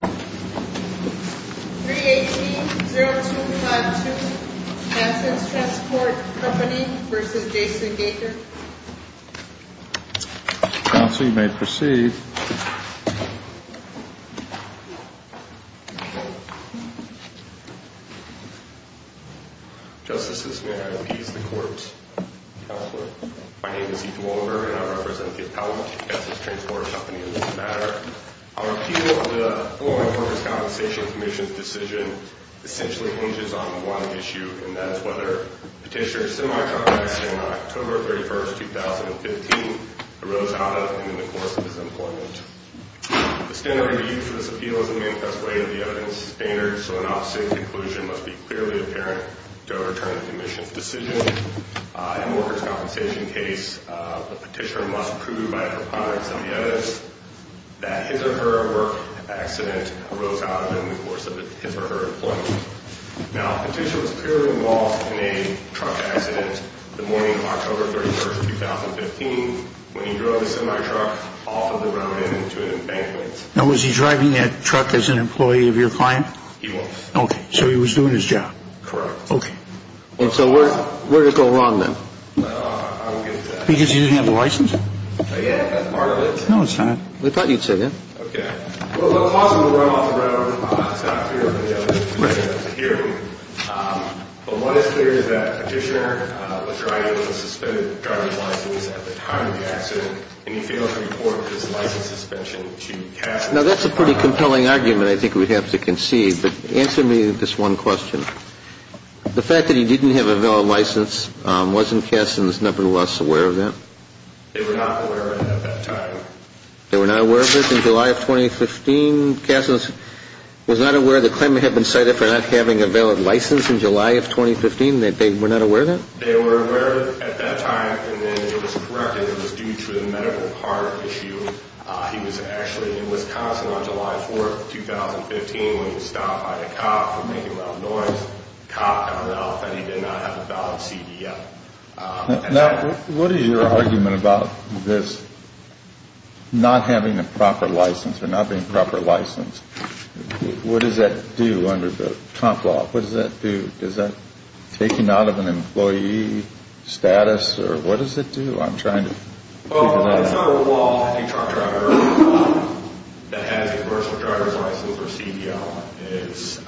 318-0252 Kessels Transport Company v. Jason Gaker Counsel, you may proceed. Justices, may I appease the court? Counselor, my name is Ethan Wolder and I represent the Appellate Kessels Transport Company in this matter. Our appeal of the former Workers' Compensation Commission's decision essentially hinges on one issue, and that is whether Petitioner's semi-car accident on October 31st, 2015 arose out of and in the course of his employment. The standard of use for this appeal is a manifest way to the evidence standard, so an opposite conclusion must be clearly apparent to overturn the Commission's decision. In the Workers' Compensation case, Petitioner must prove by her clients and the evidence that his or her work accident arose out of and in the course of his or her employment. Now, Petitioner was clearly involved in a truck accident the morning of October 31st, 2015 when he drove a semi-truck off of the Round Inn to an embankment. Now, was he driving that truck as an employee of your client? He was. Okay, so he was doing his job. Correct. Okay. And so where did it go wrong then? Because he didn't have a license? Yeah, that's part of it. No, it's not. We thought you'd say that. Okay. Now, that's a pretty compelling argument I think we'd have to concede, but answer me this one question. The fact that he didn't have a valid license, wasn't Kasson's number two boss aware of that? They were not aware of it at that time. They were not aware of it in July of 2015? Kasson was not aware the claimant had been cited for not having a valid license in July of 2015? They were not aware of it? They were aware of it at that time and then it was corrected. It was due to the medical card issue. He was actually in Wisconsin on July 4th, 2015 when he was stopped by a cop for making loud noise. The cop found out that he did not have a valid CDL. Now, what is your argument about this not having a proper license or not being a proper license? What does that do under the Trump law? What does that do? Does that take him out of an employee status or what does it do? I'm trying to figure that out. Well, it's not a law that a truck driver that has a commercial driver's license or CDL is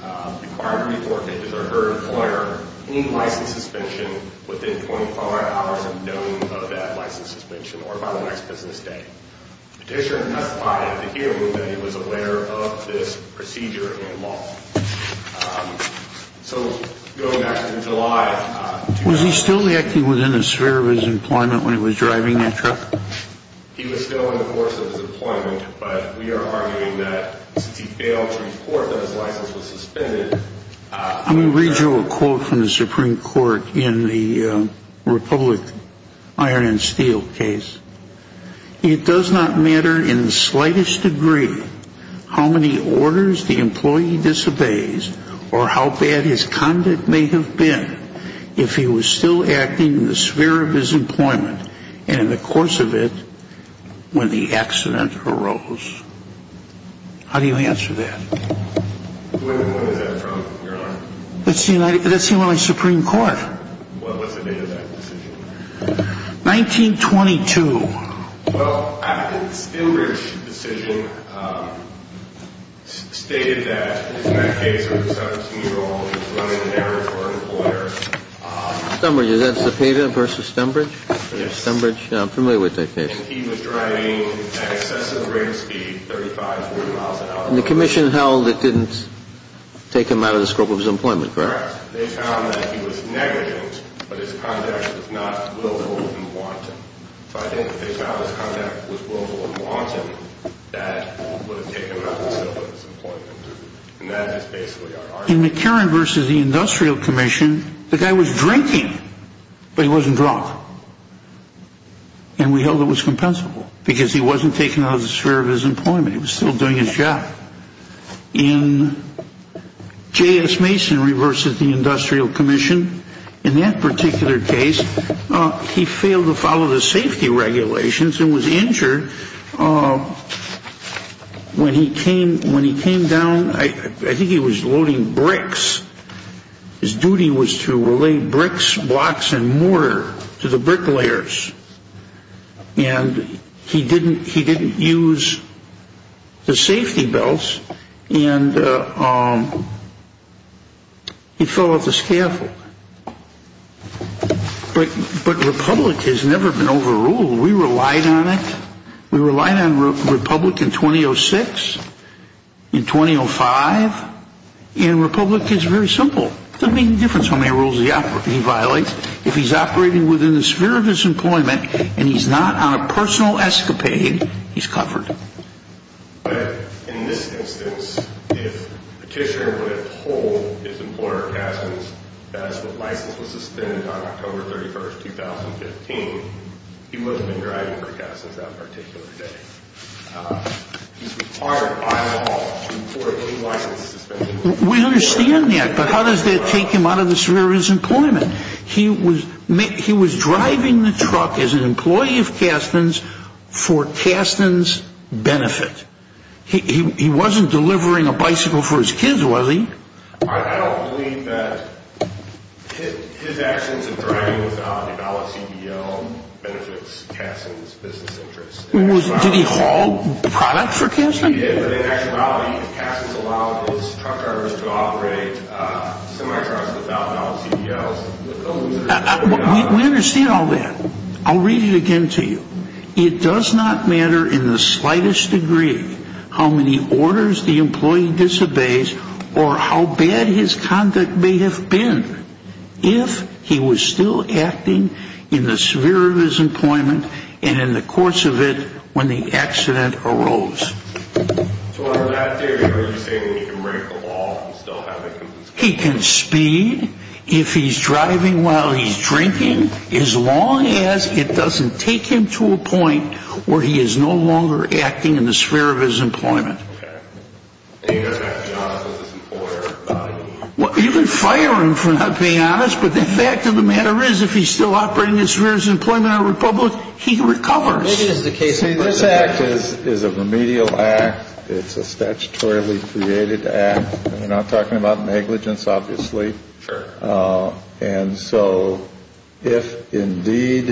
required to report that he or her employer any license suspension within 24 hours of knowing of that license suspension or by the next business day. The petitioner testified at the hearing that he was aware of this procedure in law. So going back to July... Was he still acting within the sphere of his employment when he was driving that truck? He was still in the course of his employment, but we are in the Republic Iron and Steel case. It does not matter in the slightest degree how many orders the employee disobeys or how bad his conduct may have been if he was still acting in the Supreme Court. What was the date of that decision? 1922. Well, the Stembridge decision stated that in that case a 17-year-old was running an errand for an employer. Stembridge, is that Cepeda versus Stembridge? Yes. Stembridge, I'm familiar with that case. And he was driving at excessive brake speed, 35, 40 miles an hour. And the commission held it didn't take him out of the scope of his employment, correct? Correct. They found that he was negligent, but his conduct was not willful and wanton. So I think if they found his conduct was willful and wanton, that would have taken him out of the scope of his employment. And that is basically our argument. In McCarran versus the Industrial Commission, the guy was drinking, but he wasn't drunk. And we held it was compensable because he wasn't taken out of the sphere of his employment, he was still doing his job. In J.S. Mason versus the Industrial Commission, in that particular case, he failed to follow the safety regulations and was injured when he came down. I think he was loading bricks. His duty was to relay bricks, blocks, and mortar to the bricklayers. And he didn't use the safety belts. And he fell off the scaffold. But Republic has never been overruled. We relied on it. We relied on Republic in 2006, in 2005. And Republic is very simple. It doesn't make any difference how many rules he violates. If he's operating within the sphere of his employment and he's not on a personal escapade, he's covered. But in this instance, if Petitioner would have pulled his employer, Castens, as the license was suspended on October 31st, 2015, he wouldn't have been driving for Castens that particular day. He's required by law to report any license suspension. We understand that, but how does that take him out of the sphere of his employment? He was driving the truck as an employee of Castens for Castens' benefit. He wasn't delivering a bicycle for his kids, was he? I don't believe that his actions of driving without a valid CBO benefits Castens' business interests. Did he haul product for Castens? He did, but in actuality, Castens allowed his truck drivers to operate semi-trucks without valid CBOs. We understand all that. I'll read it again to you. It does not matter in the slightest degree how many orders the employee disobeys or how bad his conduct may have been if he was still acting in the sphere of his employment and in the course of it when the accident arose. So in that theory, are you saying that he can break the law and still have it? He can speed if he's driving while he's drinking as long as it doesn't take him to a point where he is no longer acting in the sphere of his employment. Okay. And he doesn't have to be honest with his employer about it? Well, you can fire him for not being honest, but the fact of the matter is if he's still operating in the sphere of his employment in our republic, he recovers. See, this act is a remedial act. It's a statutorily created act. We're not talking about negligence, obviously. Sure. And so if indeed,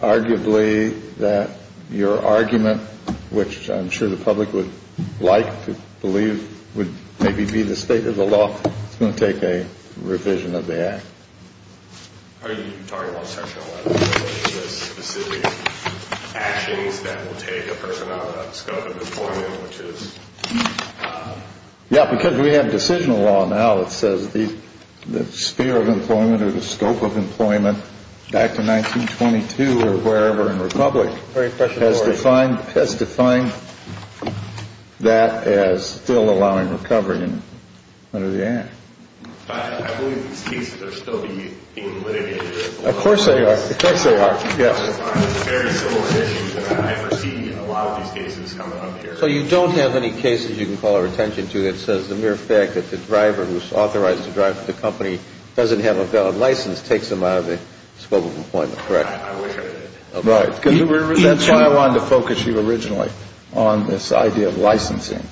arguably, that your argument, which I'm sure the public would like to believe would maybe be the state of the law, it's going to take a revision of the act. Are you talking about section 11, which has specific actions that will take a person out of the scope of employment? Yeah, because we have decisional law now that says the sphere of employment or the scope of employment back to 1922 or wherever in the republic has defined that as still allowing recovery under the act. I believe these cases are still being litigated. Of course they are. Of course they are. Yes. Very similar issues that I've seen in a lot of these cases coming up here. So you don't have any cases you can call our attention to that says the mere fact that the driver who's authorized to drive the company doesn't have a valid license takes them out of the scope of employment, correct? I wish I did. That's why I wanted to focus you originally on this idea of licensing,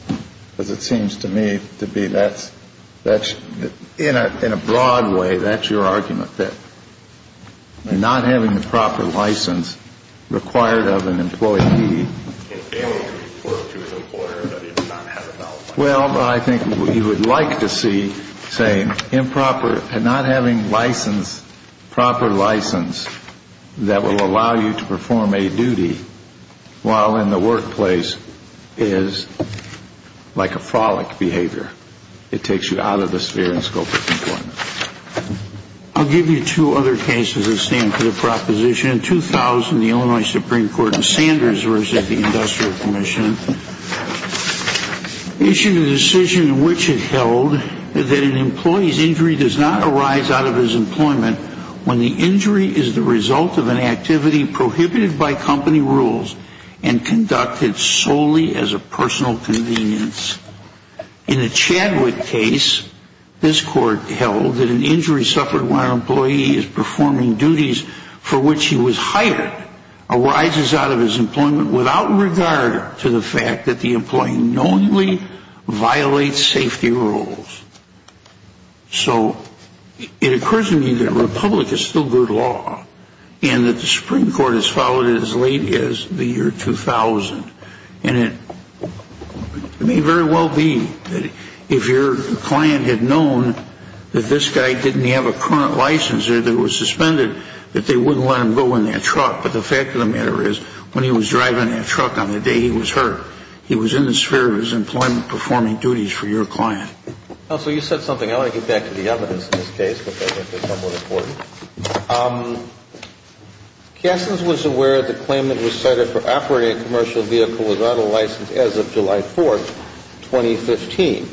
because it seems to me to be that's in a broad way. That's your argument that not having the proper license required of an employee. Well, I think you would like to see, say, improper and not having license, proper license that will allow you to perform a duty while in the workplace is like a frolic behavior. It takes you out of the sphere and scope of employment. I'll give you two other cases that stand for the proposition. In 2000, the Illinois Supreme Court in Sanders versus the Industrial Commission issued a decision in which it held that an employee's injury does not arise out of his employment when the injury is the result of an activity prohibited by company rules and conducted solely as a personal convenience. In the Chadwick case, this court held that an injury suffered when an employee is performing duties for which he was hired arises out of his employment without regard to the fact that the employee knowingly violates safety rules. So it occurs to me that Republic is still good law and that the Supreme Court has followed it as late as the year 2000. And it may very well be that if your client had known that this guy didn't have a current license or that it was suspended, that they wouldn't let him go in their truck. But the fact of the matter is, when he was driving in a truck on the day he was hurt, he was in the sphere of his employment performing duties for your client. Counsel, you said something. I want to get back to the evidence in this case. Cassins was aware of the claim that he was cited for operating a commercial vehicle without a license as of July 4th, 2015,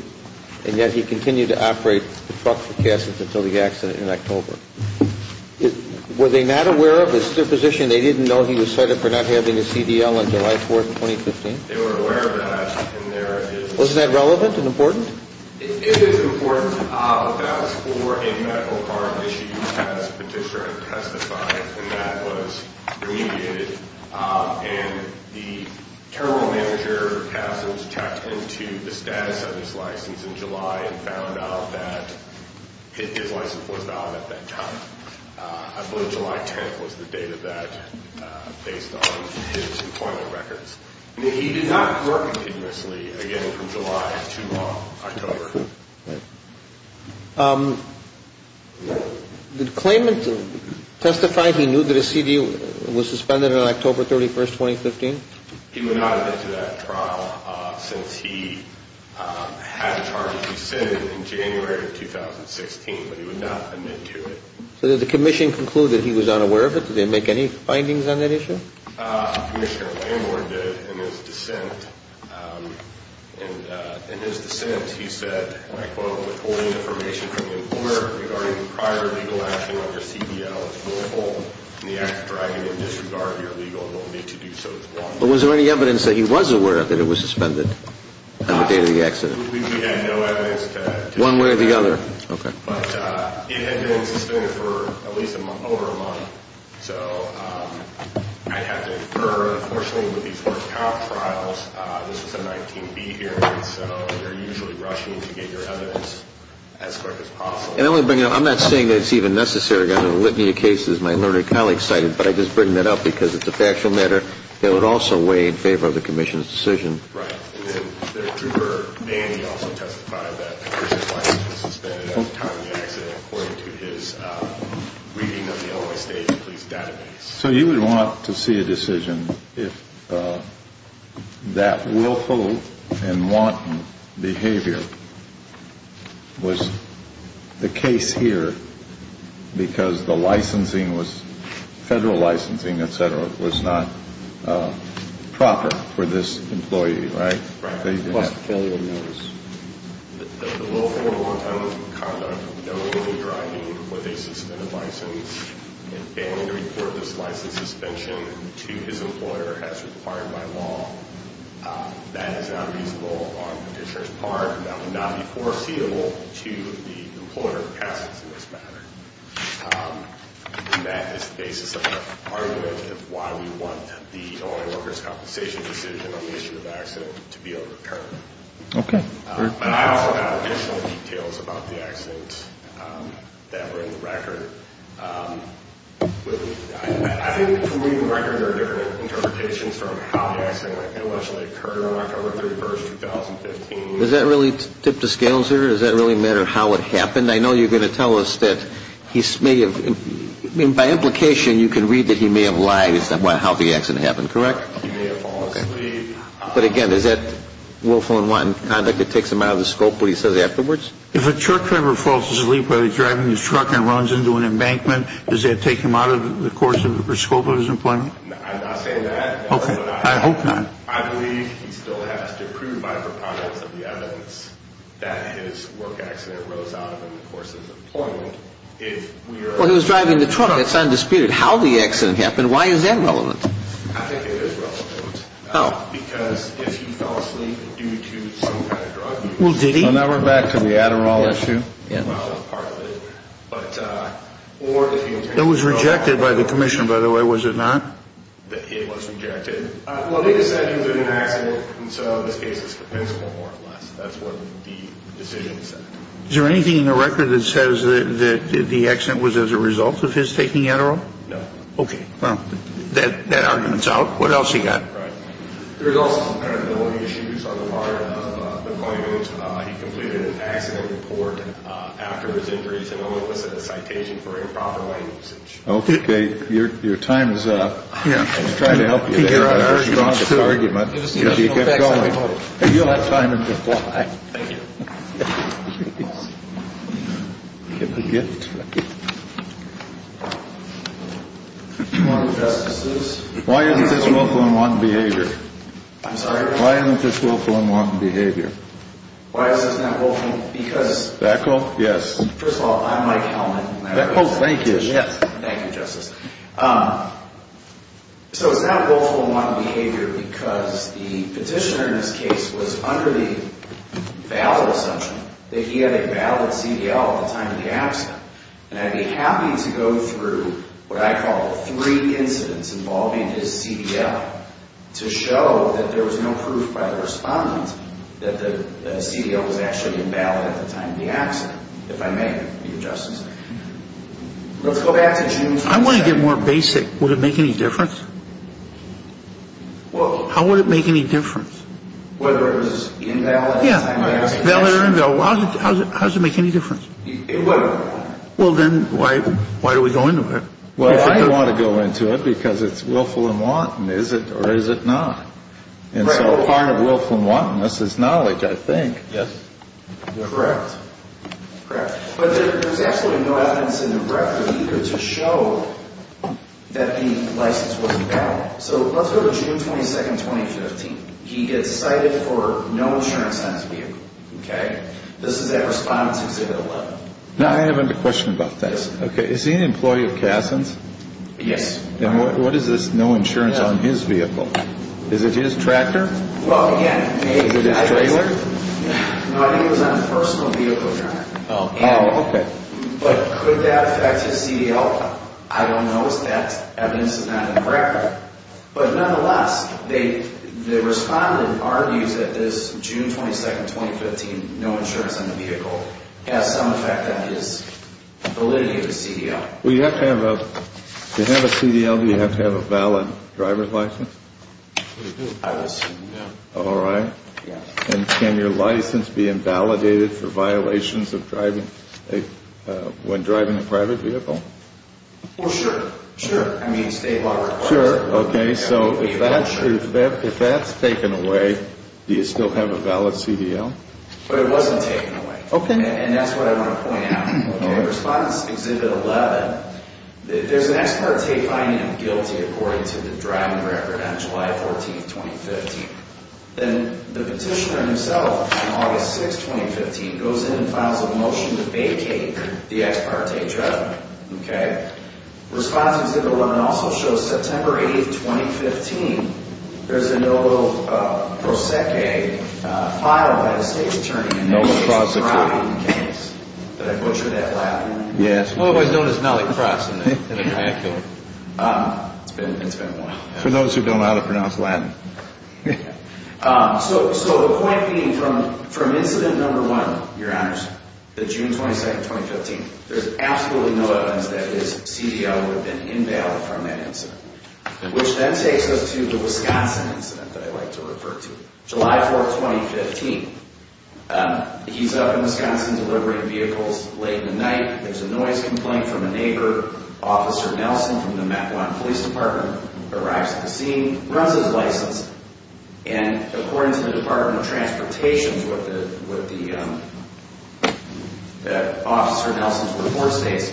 and yet he continued to operate the truck for Cassins until the accident in October. Were they not aware of his position? They didn't know he was cited for not having a CDL on July 4th, 2015? They were aware of that. Was that relevant and important? It is important. That was for a medical harm issue, as Petitioner had testified, and that was remediated. And the terminal manager, Cassins, checked into the status of his license in July and found out that his license was not at that time. I believe July 10th was the date of that, based on his employment records. He did not work continuously, again, from July to October. Okay. The claimant testified he knew that his CDL was suspended on October 31st, 2015? He would not have been to that trial since he had a charge that he sinned in January of 2016, but he would not admit to it. So did the commission conclude that he was unaware of it? Did they make any findings on that issue? Commissioner Landward did in his dissent. In his dissent, he said, and I quote, withholding information from the employer regarding the prior legal action on your CDL is wrongful, and the act of driving in disregard of your legal ability to do so is wrongful. But was there any evidence that he was aware that it was suspended on the date of the accident? We had no evidence to confirm that. One way or the other. Okay. But it had been suspended for at least over a month. So I'd have to infer, unfortunately, with these first cop trials, this is a 19B hearing, so they're usually rushing to get your evidence as quick as possible. And I want to bring it up. I'm not saying that it's even necessary. I'm going to litany of cases my learned colleague cited, but I just bring that up because it's a factual matter. It would also weigh in favor of the commission's decision. Right. And then their trooper, Manny, also testified that the commission's license was suspended at the time of the accident according to his reading of the Illinois State Police database. So you would want to see a decision if that willful and wanton behavior was the case here because the licensing was, federal licensing, et cetera, was not proper for this employee, right? Right. Plus failure notice. The willful and wanton conduct of knowingly driving with a suspended license and failing to report this license suspension to his employer as required by law, that is not reasonable on the commissioner's part and that would not be foreseeable to the employer in this matter. And that is the basis of the argument of why we want the Illinois Workers' Compensation decision on the issue of the accident to be overturned. Okay. But I also have additional details about the accident that were in the record. I think between the records are different interpretations from how the accident actually occurred on October 31, 2015. Does that really tip the scales here? Does that really matter how it happened? I know you're going to tell us that he may have, I mean, by implication, you can read that he may have lied as to how the accident happened, correct? He may have fallen asleep. Okay. But again, is that willful and wanton conduct that takes him out of the scope of what he says afterwards? If a truck driver falls asleep while he's driving his truck and runs into an embankment, does that take him out of the scope of his employment? I'm not saying that. Okay. I hope not. I believe he still has to prove by proponents of the evidence that his work accident arose out of him in the course of his employment. Well, he was driving the truck. It's undisputed. How the accident happened, why is that relevant? I think it is relevant. How? Because if he fell asleep due to some kind of drug use. Well, did he? Well, now we're back to the Adderall issue. Yeah. Well, that's part of it. It was rejected by the commission, by the way. Was it not? It was rejected. Well, they said it was an accident, and so this case is compensable more or less. That's what the decision said. Is there anything in the record that says that the accident was as a result of his taking Adderall? No. Okay. Well, that argument's out. What else you got? There's also some credibility issues on the part of the claimant. He completed an accident report after his injuries and only listed the citation for improper language. Okay. Your time is up. I was trying to help you there. It's a very strong argument. If you get going, you'll have time to reply. Thank you. Give the gift. Why isn't this willful and wanton behavior? I'm sorry? Why isn't this willful and wanton behavior? Why is this not willful? Because. Beckle? Yes. First of all, I'm Mike Hellman. Beckle, thank you. Yes. Thank you, Justice. So it's not willful and wanton behavior because the petitioner in this case was under the valid assumption that he had a valid CDL at the time of the accident. And I'd be happy to go through what I call three incidents involving his CDL to show that there was no proof by the respondent that the CDL was actually invalid at the time of the accident, if I may, Your Justice. Let's go back to June. I want to get more basic. Would it make any difference? How would it make any difference? Whether it was invalid. Yeah. Valid or invalid. How does it make any difference? It wouldn't. Well, then why do we go into it? Well, I don't want to go into it because it's willful and wanton. Is it or is it not? And so part of willful and wantonness is knowledge, I think. Yes. Correct. Correct. But there's absolutely no evidence in the record either to show that the license wasn't valid. So let's go to June 22, 2015. He gets cited for no insurance on his vehicle. Okay. This is at Respondent's Exhibit 11. Now, I have a question about this. Okay. Is he an employee of Kasson's? Yes. And what is this no insurance on his vehicle? Is it his tractor? Well, again, I think it was on a personal vehicle, Your Honor. Oh, okay. But could that affect his CDL? I don't know. That evidence is not in the record. But nonetheless, the Respondent argues that this June 22, 2015, no insurance on the vehicle has some effect on his validity of his CDL. Well, you have to have a valid driver's license? I would assume, yes. All right. Yes. And can your license be invalidated for violations when driving a private vehicle? Well, sure. Sure. I mean, State law requires it. Sure. Okay. So if that's taken away, do you still have a valid CDL? But it wasn't taken away. Okay. And that's what I want to point out. Okay. In Respondent's Exhibit 11, there's an ex parte finding of guilty according to the driving record on July 14, 2015. Then the petitioner himself, on August 6, 2015, goes in and files a motion to vacate the ex parte driver. Okay. Respondent's Exhibit 11 also shows September 8, 2015, there's a Novo Prosecco filed by the State Attorney. A Novo Prosecco. That I butchered that Latin name. Yes. Well, it was known as Nally Cross in the triangular. It's been a while. For those who don't know how to pronounce Latin. So the point being, from incident number one, your honors, the June 22, 2015, there's absolutely no evidence that his CDL would have been invalid from that incident. Which then takes us to the Wisconsin incident that I'd like to refer to. July 4, 2015. He's up in Wisconsin delivering vehicles late in the night. There's a noise complaint from a neighbor. Officer Nelson from the Mequon Police Department arrives at the scene, runs his license, and according to the Department of Transportation, what the officer Nelson's report states,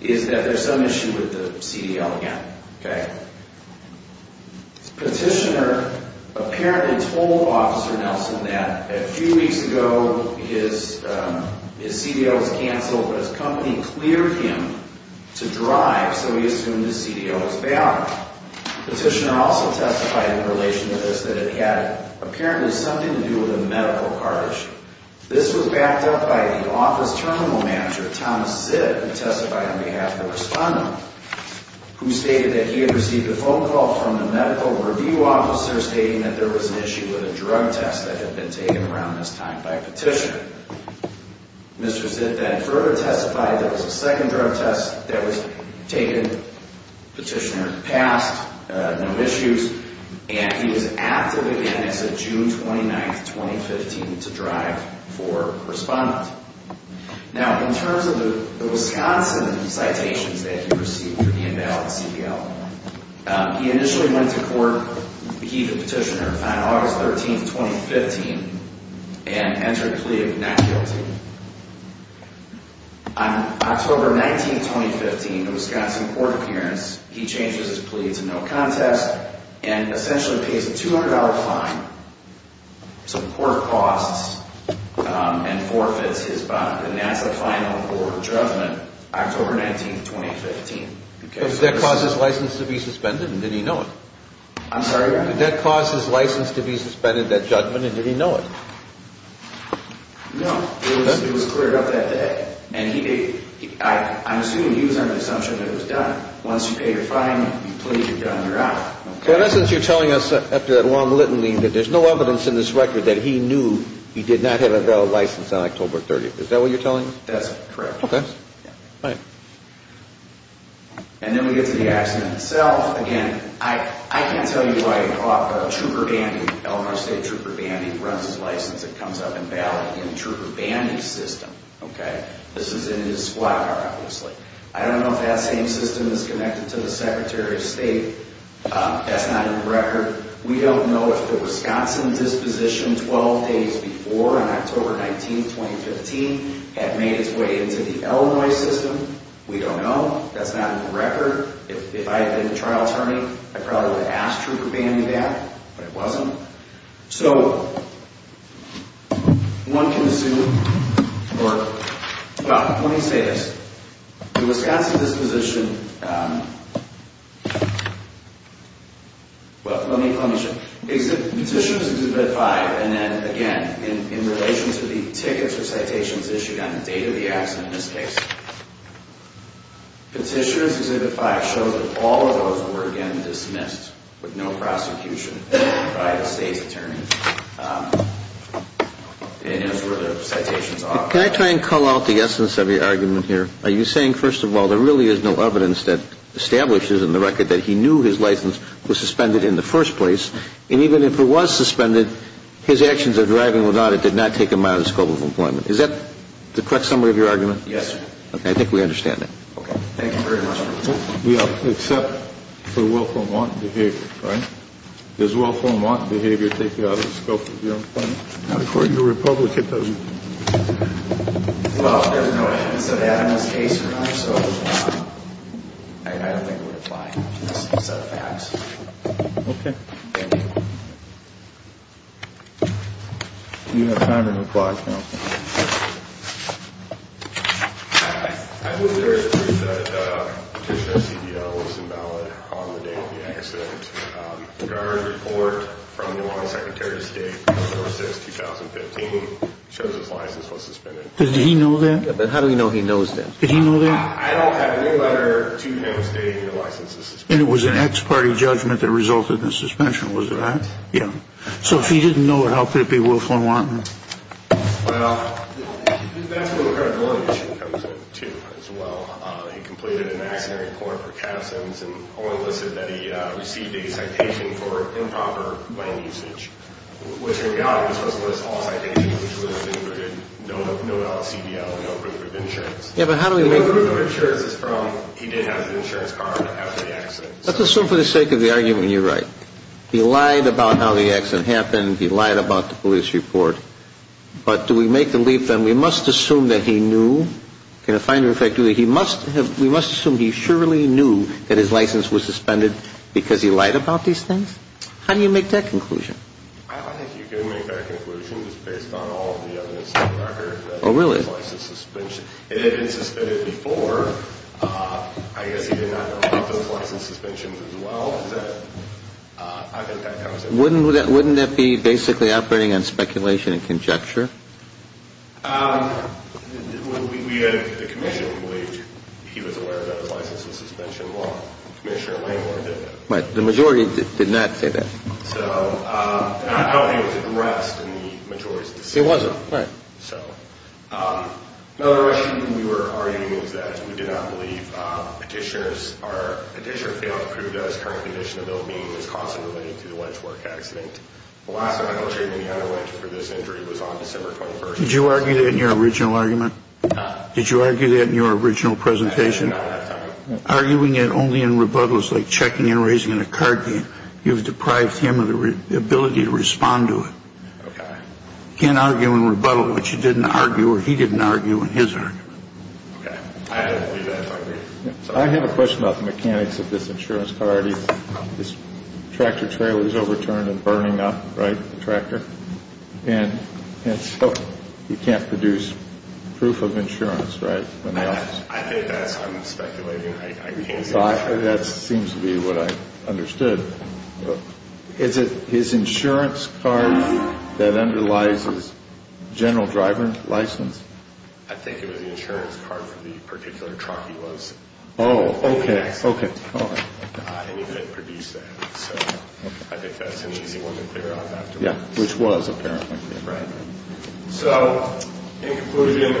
is that there's some issue with the CDL again. Okay. Petitioner apparently told Officer Nelson that a few weeks ago his CDL was canceled, but his company cleared him to drive, so he assumed his CDL was valid. Petitioner also testified in relation to this that it had apparently something to do with a medical card issue. This was backed up by the office terminal manager, Thomas Zitt, who testified on behalf of the respondent, who stated that he had received a phone call from the medical review officer stating that there was an issue with a drug test that had been taken around this time by Petitioner. Mr. Zitt then further testified there was a second drug test that was taken. Petitioner passed, no issues, and he was active again as of June 29, 2015, to drive for respondent. Now, in terms of the Wisconsin citations that he received for the invalid CDL, he initially went to court, he the petitioner, on August 13, 2015, and entered a plea of not guilty. On October 19, 2015, the Wisconsin court appearance, he changes his plea to no contest and essentially pays a $200 fine. So the court costs and forfeits his bond, and that's the final court judgment October 19, 2015. Did that cause his license to be suspended, and did he know it? I'm sorry? Did that cause his license to be suspended, that judgment, and did he know it? No. It was cleared up that day. I'm assuming he was under the assumption that it was done. Once you pay your fine, you plead your gun, you're out. So in essence, you're telling us, after that long litany, that there's no evidence in this record that he knew he did not have a valid license on October 30. Is that what you're telling us? That's correct. Okay. And then we get to the accident itself. Again, I can't tell you why Elmhurst State Trooper Bandy runs his license and comes up and bails in Trooper Bandy's system. Okay? This is in his squad car, obviously. I don't know if that same system is connected to the Secretary of State. That's not in the record. We don't know if the Wisconsin disposition 12 days before, on October 19, 2015, had made its way into the Illinois system. We don't know. That's not in the record. If I had been the trial attorney, I probably would have asked Trooper Bandy that, but it wasn't. So one can assume, or, well, let me say this. The Wisconsin disposition, well, let me show you. Petitions Exhibit 5, and then, again, in relation to the tickets or citations issued on the date of the accident in this case, Petitions Exhibit 5 shows that all of those were, again, dismissed with no prosecution by the state's attorney, and that's where the citations are. Can I try and call out the essence of your argument here? Are you saying, first of all, there really is no evidence that establishes in the record that he knew his license was suspended in the first place, and even if it was suspended, his actions of driving without it did not take him out of the scope of employment? Is that the correct summary of your argument? Yes, sir. Okay. I think we understand that. Okay. Thank you very much. We have to accept the willful and wanton behavior, right? Does willful and wanton behavior take you out of the scope of your employment? According to Republic, it doesn't. Well, there's no evidence of that in this case, so I don't think it would apply. It's out of the house. Okay. Thank you. Do you have time to reply, counsel? I believe there is proof that Petitioner CDL was invalid on the day of the accident. The guard report from New Orleans Secretary of State, October 6, 2015, shows his license was suspended. Did he know that? Yeah, but how do we know he knows that? Did he know that? I don't have any letter to him stating that his license is suspended. And it was an ex-party judgment that resulted in the suspension. Was it that? Yeah. So if he didn't know it, how could it be willful and wanton? Well, that's where the credibility issue comes in, too, as well. He completed an accident report for cabsins and only listed that he received a citation for improper lane usage, which in reality was supposed to list all citations, which listed no LCDL, no proof of insurance. Yeah, but how do we know? No proof of insurance is from he didn't have an insurance card after the accident. Let's assume for the sake of the argument you're right. He lied about how the accident happened. He lied about the police report. But do we make the leap, then, we must assume that he knew? Can a finder of fact do that? We must assume he surely knew that his license was suspended because he lied about these things? How do you make that conclusion? I think you can make that conclusion just based on all of the evidence on the record. Oh, really? It had been suspended before. I guess he did not know about those license suspensions as well. Wouldn't that be basically operating on speculation and conjecture? We had a commission in which he was aware of those license suspension laws. Commissioner Langworth did that. But the majority did not say that. So I don't think it was addressed in the majority's decision. It wasn't, right. Another issue we were arguing is that we did not believe petitioner's or petitioner failed to prove that his current condition, although he was constantly relating to the wench work accident. The last time he had a wench for this injury was on December 21st. Did you argue that in your original argument? No. Did you argue that in your original presentation? I did not at that time. Arguing it only in rebuttal is like checking and raising a card game. You've deprived him of the ability to respond to it. Okay. You can't argue in rebuttal what you didn't argue or he didn't argue in his argument. Okay. I agree. I have a question about the mechanics of this insurance card. This tractor trailer is overturned and burning up, right, the tractor. And so you can't produce proof of insurance, right? I think that's unspeculating. That seems to be what I understood. Is it his insurance card that underlies his general driver's license? I think it was the insurance card for the particular truck he was. Oh, okay, okay. And you couldn't produce that. So I think that's an easy one to figure out afterwards. Yeah, which was apparently. Right. So, in conclusion,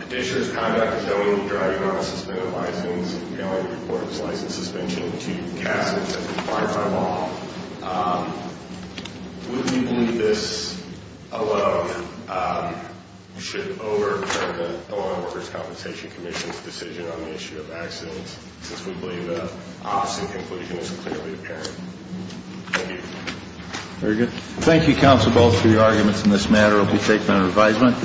petitioner's conduct is known to be driving on a suspended license and failing to report his license suspension to cases that require by law. Would we believe this alone should overturn the Illinois Workers' Compensation Commission's decision on the issue of accidents, since we believe the opposite conclusion is clearly apparent? Thank you. Very good. Thank you, counsel, both for your arguments in this matter. It will be taken under advisement.